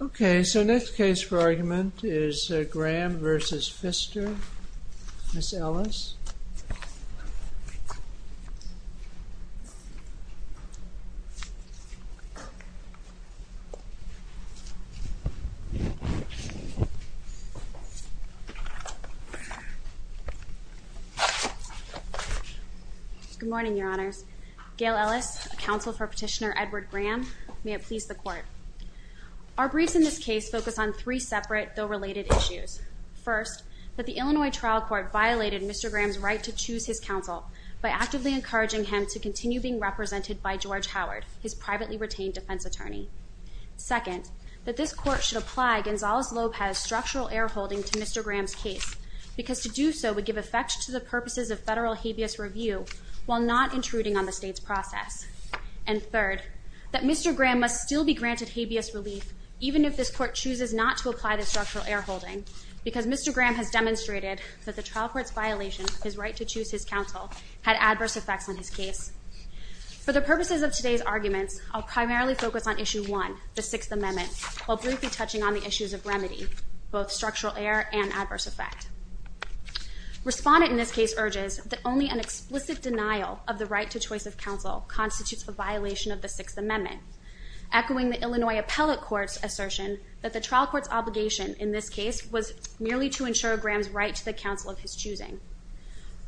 Okay, so next case for argument is Graham v. Pfister, Ms. Ellis Good morning, your honors. Gail Ellis, counsel for petitioner Edward Graham. May it please the court Our briefs in this case focus on three separate though related issues. First, that the Illinois trial court violated Mr. Graham's right to choose his counsel by actively encouraging him to continue being represented by George Howard, his privately retained defense attorney. Second, that this court should apply Gonzales-Lobez structural air holding to Mr. Graham's case because to do so would give effect to the purposes of federal habeas review while not intruding on the state's process. And third, that this court should apply Gonzales-Lobez structural air holding because Mr. Graham has demonstrated that the trial court's violation of his right to choose his counsel had adverse effects on his case. For the purposes of today's arguments, I'll primarily focus on issue one, the Sixth Amendment, while briefly touching on the issues of remedy, both structural error and adverse effect. Respondent in this case urges that only an explicit denial of the right to choice of counsel constitutes a violation of the Sixth Amendment, echoing the Illinois Appellate Court's assertion that the trial court's obligation in this case was merely to ensure Graham's right to the counsel of his choosing.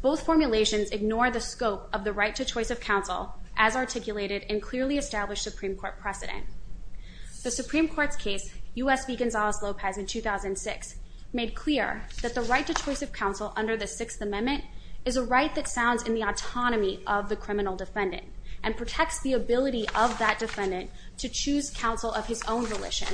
Both formulations ignore the scope of the right to choice of counsel as articulated and clearly established Supreme Court precedent. The Supreme Court's case, U.S. v. Gonzales-Lopez in 2006, made clear that the right to choice of counsel under the Sixth Amendment is a right that sounds in the Supreme Court precedent to choose counsel of his own volition,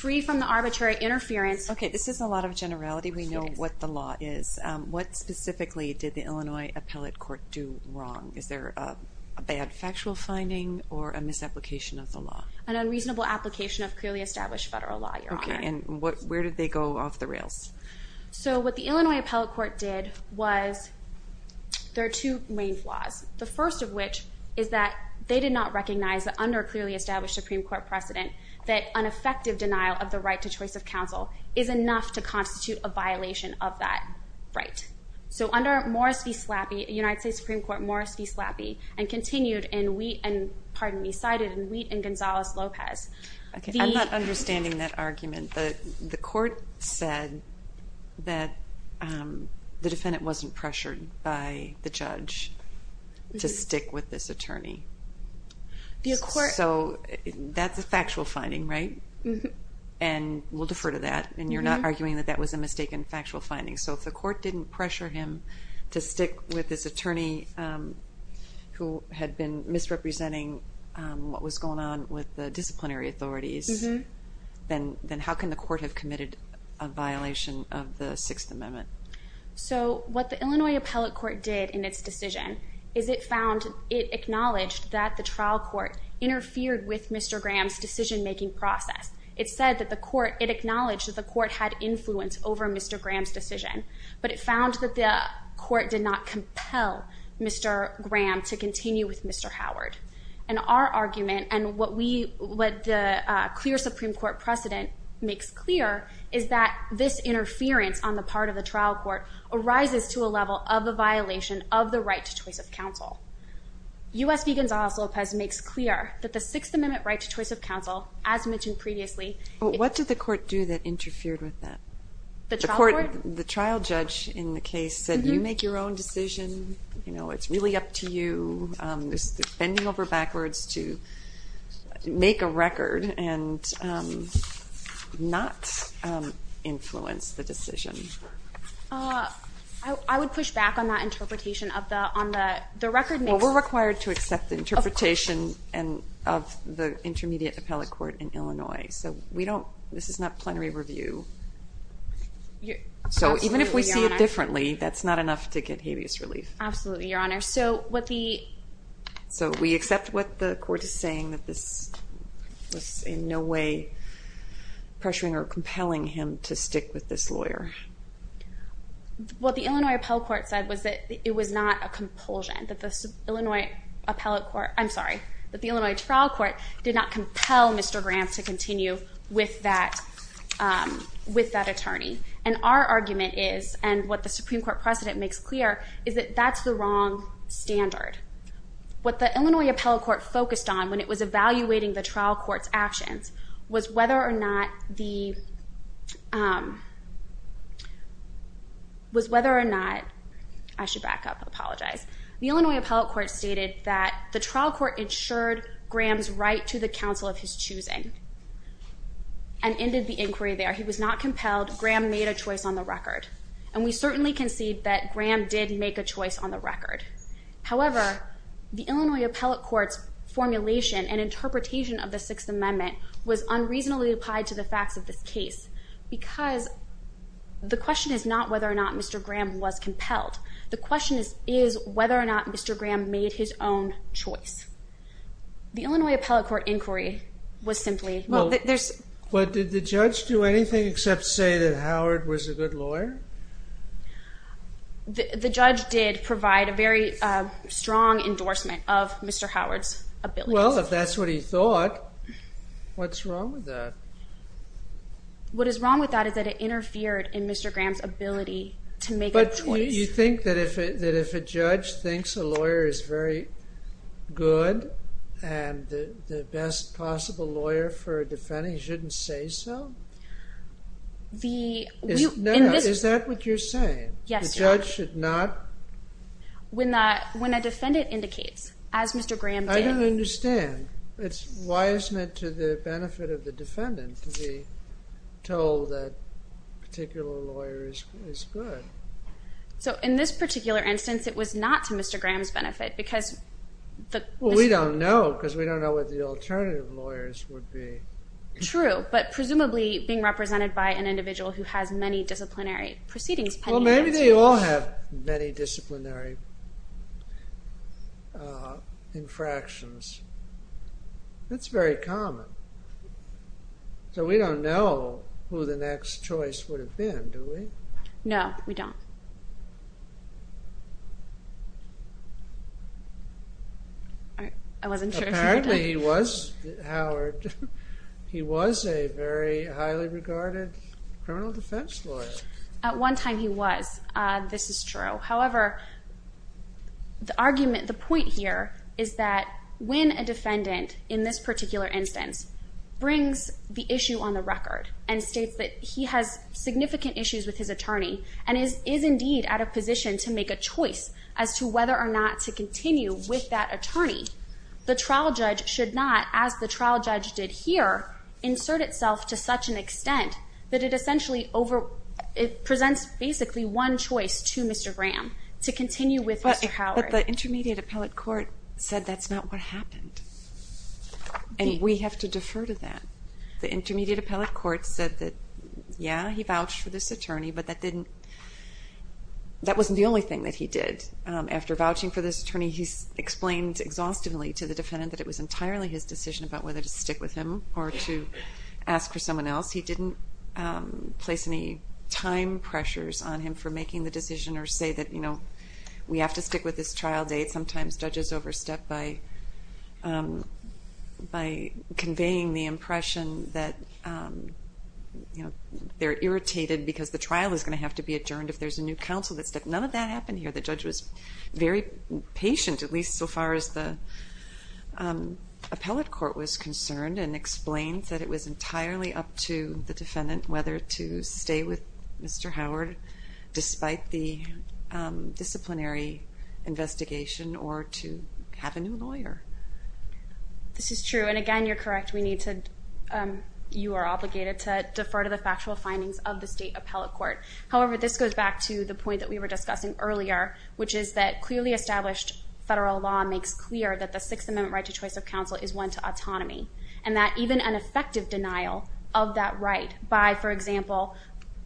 free from the arbitrary interference. Okay, this is a lot of generality. We know what the law is. What specifically did the Illinois Appellate Court do wrong? Is there a bad factual finding or a misapplication of the law? An unreasonable application of clearly established federal law, Your Honor. Okay, and where did they go off the rails? So what the Illinois Appellate Court did was, there are two main flaws. The first of which is that they did not recognize that under a clearly established Supreme Court precedent that unaffected denial of the right to choice of counsel is enough to constitute a violation of that right. So under Morris v. Slappy, United States Supreme Court Morris v. Slappy, and continued in Wheat and, pardon me, cited in Wheat and Gonzales-Lopez. Okay, I'm not understanding that argument, but the court said that the defendant wasn't pressured by the judge to stick with this attorney. So, that's a factual finding, right? And we'll defer to that, and you're not arguing that that was a mistaken factual finding. So if the court didn't pressure him to stick with this attorney who had been misrepresenting what was going on with the disciplinary authorities, then how can the court have committed a violation of the Sixth Amendment? So what the Illinois Appellate Court did in its decision is it found, it acknowledged that the trial court interfered with Mr. Graham's decision-making process. It said that the court, it acknowledged that the court had influence over Mr. Graham's decision, but it found that the court did not compel Mr. Graham to continue with Mr. Howard. And our argument, and what we, what the clear Supreme Court precedent makes clear, is that this interference on the part of the trial court arises to a level of a violation of the right to choice of counsel. U.S. v. Gonzales-Lopez makes clear that the Sixth Amendment right to choice of counsel, as mentioned previously, What did the court do that interfered with that? The trial court? The trial judge in the case said, you make your own decision, you know, it's really up to you. There's bending over backwards to make a record and not influence the decision. I would push back on that interpretation of the, on the, the record makes... Well, we're required to accept the interpretation and of the Intermediate Appellate Court in Illinois. So we don't, this is not plenary review. So even if we see it differently, that's not enough to get habeas relief. Absolutely, Your Honor. So what the... So we accept what the court is saying, that this was in no way pressuring or compelling him to stick with this lawyer. What the Illinois Appellate Court said was that it was not a compulsion, that the Illinois Appellate Court, I'm sorry, that the Illinois Trial Court did not compel Mr. Gramps to continue with that, with that attorney. And our argument is, and what the Supreme Court precedent makes clear, is that that's the wrong standard. What the Illinois Appellate Court focused on when it was evaluating the trial court's actions was whether or not the, was whether or not, I should back up, I apologize, the Illinois Appellate Court stated that the trial court insured Gramps' right to the counsel of his choosing and ended the inquiry there. He was not compelled. Graham made a choice on the record. And we certainly concede that Graham did make a choice on the record. However, the Illinois Appellate Court's formulation and interpretation of the Sixth Amendment was unreasonably applied to the facts of this case. Because the question is not whether or not Mr. Graham was compelled. The question is whether or not Mr. Graham made his own choice. The Illinois Appellate Court inquiry was simply, well, there's, but did the judge do anything except say that Howard was a good lawyer? The judge did provide a very strong endorsement of Mr. Howard's ability. Well, if that's what he thought, what's wrong with that? What is wrong with that is that it interfered in Mr. Graham's ability to make a choice. But you think that if a judge thinks a lawyer is very good and the best possible lawyer for a defendant, he shouldn't say so? The... Is that what you're saying? Yes. The judge should not... When a defendant indicates, as Mr. Graham did... I don't understand. It's, why isn't it to the benefit of the defendant to be told that a particular lawyer is good? So in this particular instance, it was not to Mr. Graham's benefit because the... Well, we don't know because we don't know what the alternative lawyers would be. True, but presumably being represented by an individual who has many disciplinary proceedings pending against him. Well, maybe they all have many disciplinary infractions. That's very common. So we don't know who the next choice would have been, do we? No, we don't. I wasn't sure. Apparently he was, Howard. He was a very highly regarded criminal defense lawyer. At one time he was, this is true. However, the argument, the point here is that when a defendant in this particular instance brings the issue on the record and states that he has significant issues with his attorney and is indeed at a position to make a choice as to whether or not to continue with that attorney, the trial judge should not, as the trial judge did here, insert itself to such an extent that it essentially over, it presents basically one choice to Mr. Graham to continue with Mr. Howard. But the intermediate appellate court said that's not what happened. And we have to defer to that. The intermediate appellate court said that, yeah, he vouched for this attorney, but that didn't, that wasn't the only thing that he did. After vouching for this attorney, he explained exhaustively to the defendant that it was entirely his decision about whether to stick with him or to ask for someone else. He didn't place any time pressures on him for making the decision or say that, you know, we have to stick with this trial date. Sometimes judges overstep by conveying the impression that, you know, they're irritated because the trial is going to have to be adjourned if there's a new counsel that step. None of that happened here. The judge was very patient, at least so far as the appellate court was concerned and explained that it was entirely up to the defendant whether to stay with Mr. Howard despite the disciplinary investigation or to have a new lawyer. This is true. And again, you're correct. We need to, you are obligated to defer to the factual findings of the state appellate court. However, this goes back to the point that we were discussing earlier, which is that clearly established federal law makes clear that the Sixth Amendment right to choice of counsel is one to autonomy and that even an effective denial of that right by, for example,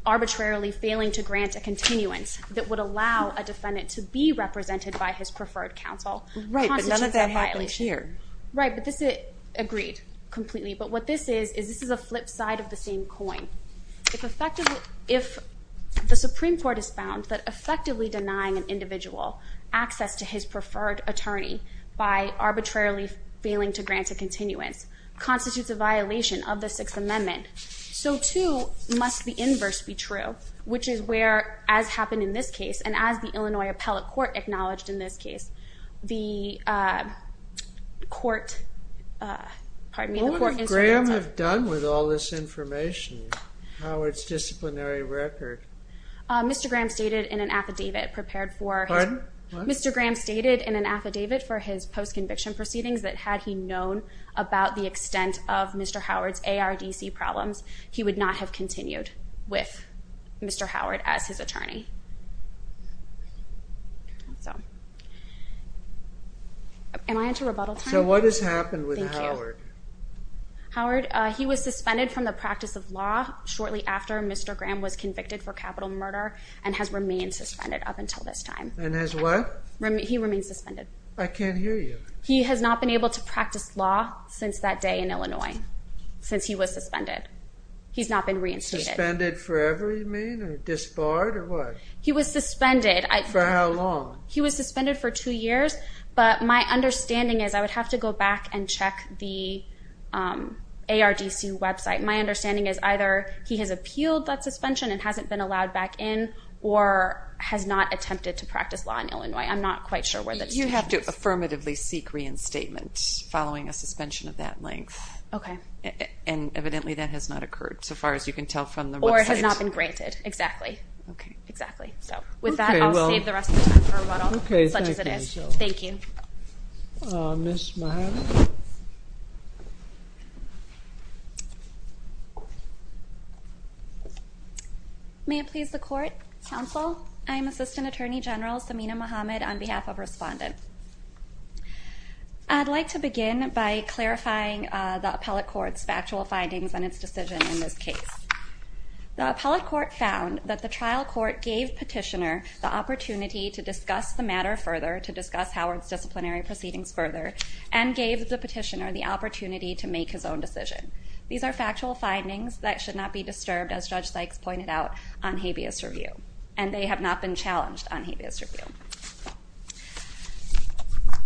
arbitrarily failing to grant a continuance that would allow a defendant to be represented by his preferred counsel. Right, but none of that happens here. Right, but this it agreed completely. But what this is, is this is a flip side of the same coin. If effectively, if the Supreme Court is found that effectively denying an individual access to his preferred attorney by arbitrarily failing to grant a continuance constitutes a violation of the Sixth Amendment. So too must the inverse be true, which is where, as happened in this case, and as the Illinois appellate court acknowledged in this case, the court, pardon me, the court is- What would Graham have done with all this information? Howard's disciplinary record. Mr. Graham stated in an affidavit prepared for- Pardon? Mr. Graham stated in an affidavit for his post-conviction proceedings that had he known about the extent of Mr. Howard's ARDC problems, he would not have continued with Mr. Howard as his attorney. So, am I into rebuttal time? So what has happened with Howard? Howard, he was suspended from the practice of law shortly after Mr. Graham was convicted for capital murder and has remained suspended up until this time. And has what? He remains suspended. I can't hear you. He has not been able to practice law since that day in Illinois, since he was suspended. He's not been reinstated. Suspended forever, you mean, or disbarred, or what? He was suspended. For how long? He was suspended for two years, but my understanding is I would have to go back and check the ARDC website. My understanding is either he has appealed that suspension and hasn't been allowed back in or has not attempted to practice law in Illinois. I'm not quite sure where that is. You have to affirmatively seek reinstatement following a suspension of that length. Okay. And evidently that has not occurred so far as you can tell from the website. Or it has not been approved. Okay. I will save the rest of the time for rebuttal, such as it is. Thank you. May it please the court, counsel. I'm Assistant Attorney General Samina Mohamed on behalf of respondents. I'd like to begin by clarifying the appellate court's factual findings on its decision in this case. The appellate court found that the trial court gave petitioner the opportunity to discuss the matter further, to discuss Howard's disciplinary proceedings further, and gave the petitioner the opportunity to make his own decision. These are factual findings that should not be disturbed, as Judge Sykes pointed out on habeas review, and they have not been challenged on habeas review.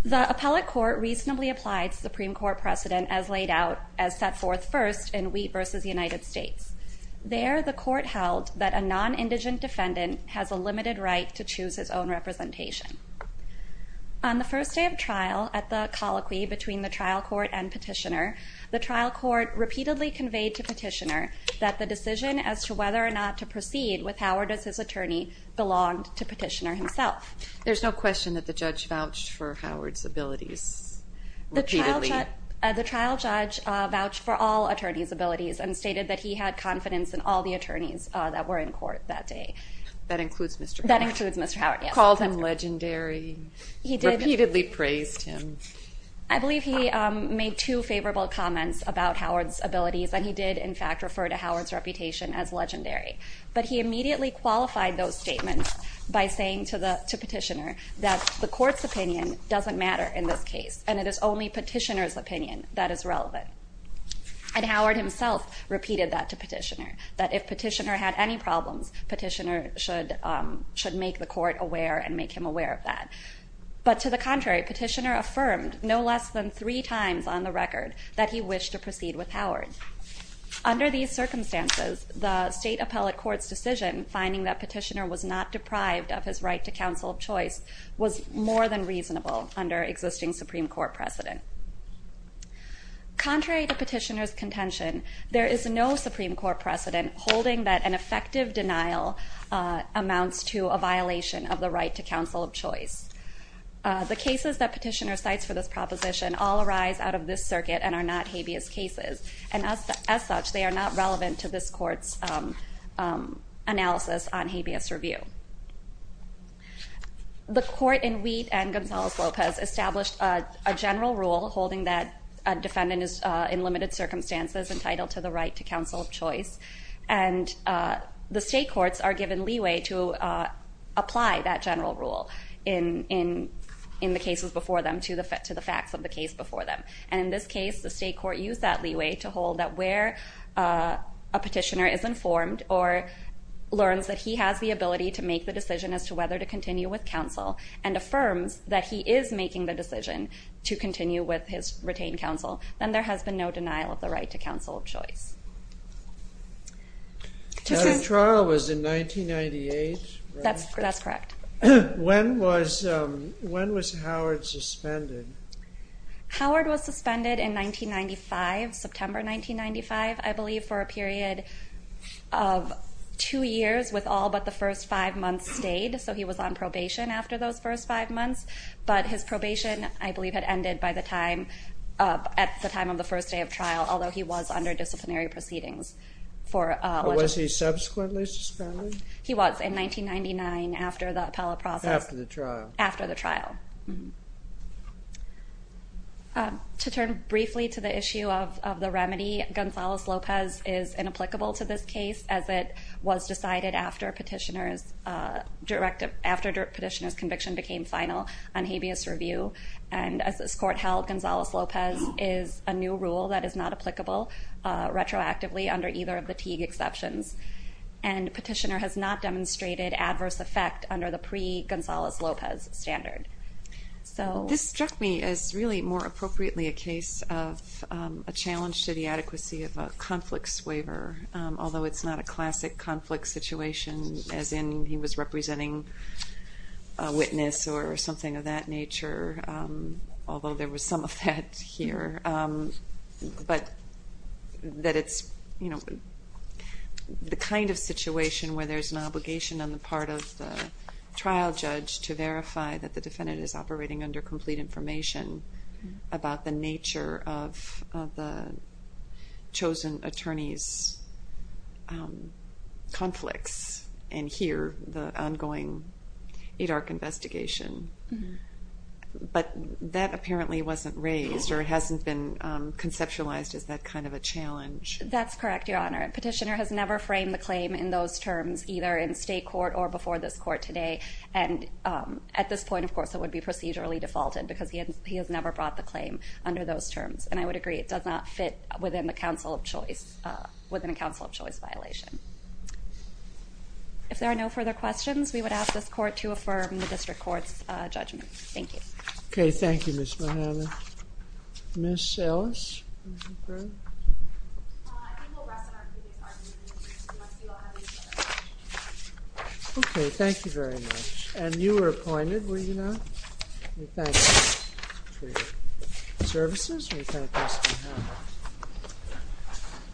The appellate court reasonably applied Supreme Court precedent as laid out as set forth first in Wheat v. United States. There, the court held that a non-indigent defendant has a limited right to choose his own representation. On the first day of trial at the colloquy between the trial court and petitioner, the trial court repeatedly conveyed to petitioner that the decision as to whether or not to proceed with Howard as his attorney belonged to petitioner himself. There's no question that the judge vouched for Howard's abilities. The trial judge vouched for all attorneys' abilities and stated that he had confidence in all the attorneys that were in court that day. That includes Mr. Howard. That includes Mr. Howard, yes. Called him legendary. He did. Repeatedly praised him. I believe he made two favorable comments about Howard's abilities, and he did, in fact, refer to Howard's reputation as legendary. But he immediately qualified those statements by saying to the petitioner that the court's opinion doesn't matter in this case. And it is only petitioner's opinion that is relevant. And Howard himself repeated that to petitioner, that if petitioner had any problems, petitioner should make the court aware and make him aware of that. But to the contrary, petitioner affirmed no less than three times on the record that he wished to proceed with Howard. Under these circumstances, the state appellate court's decision, finding that petitioner was not deprived of his right to counsel of choice, was more than reasonable under existing Supreme Court precedent. Contrary to petitioner's contention, there is no Supreme Court precedent holding that an effective denial amounts to a violation of the right to counsel of choice. The cases that petitioner cites for this proposition all arise out of this circuit and are not habeas cases. And as such, they are not relevant to this court's analysis on habeas review. The court in Wheat and Gonzales-Lopez established a general rule holding that a defendant is in limited circumstances entitled to the right to counsel of choice. And the state courts are given leeway to apply that general rule in the cases before them to the facts of the case before them. And in this case, the state court used that leeway to hold that where a petitioner is informed or learns that he has the ability to make a claim, to make the decision as to whether to continue with counsel, and affirms that he is making the decision to continue with his retained counsel, then there has been no denial of the right to counsel of choice. That trial was in 1998, right? That's correct. When was Howard suspended? Howard was suspended in 1995, September 1995, I believe, for a period of two years with all but the first five months stayed. So he was on probation after those first five months. But his probation, I believe, had ended at the time of the first day of trial, although he was under disciplinary proceedings. Was he subsequently suspended? He was, in 1999, after the appellate process. After the trial? After the trial. To turn briefly to the issue of the remedy, Gonzales-Lopez is inapplicable to this case, as it was decided after petitioner's conviction became final on habeas review. And as this court held, Gonzales-Lopez is a new rule that is not applicable retroactively under either of the Teague exceptions. And petitioner has not demonstrated adverse effect under the pre-Gonzales-Lopez standard. This struck me as really more appropriately a case of a challenge to the adequacy of a conflict waiver, although it's not a classic conflict situation, as in he was representing a witness or something of that nature, although there was some effect here. But that it's the kind of situation where there's an obligation on the part of the trial judge to verify that the defendant is operating under complete information about the nature of the chosen attorney's conflicts, and here, the ongoing ADARC investigation. But that apparently wasn't raised, or it hasn't been conceptualized as that kind of a challenge. That's correct, Your Honor. Petitioner has never framed the claim in those terms, either in state court or before this court today. And at this point, of course, it would be procedurally defaulted because he has never brought the claim under those terms. And I would agree, it does not fit within the counsel of choice, within a counsel of choice violation. If there are no further questions, we would ask this court to affirm the district court's judgment. Thank you. Okay, thank you, Ms. Mojave. Ms. Ellis? I think we'll rest on our previous arguments. Okay, thank you very much. And you were appointed, were you not? We thank you for your services. We thank you for your time.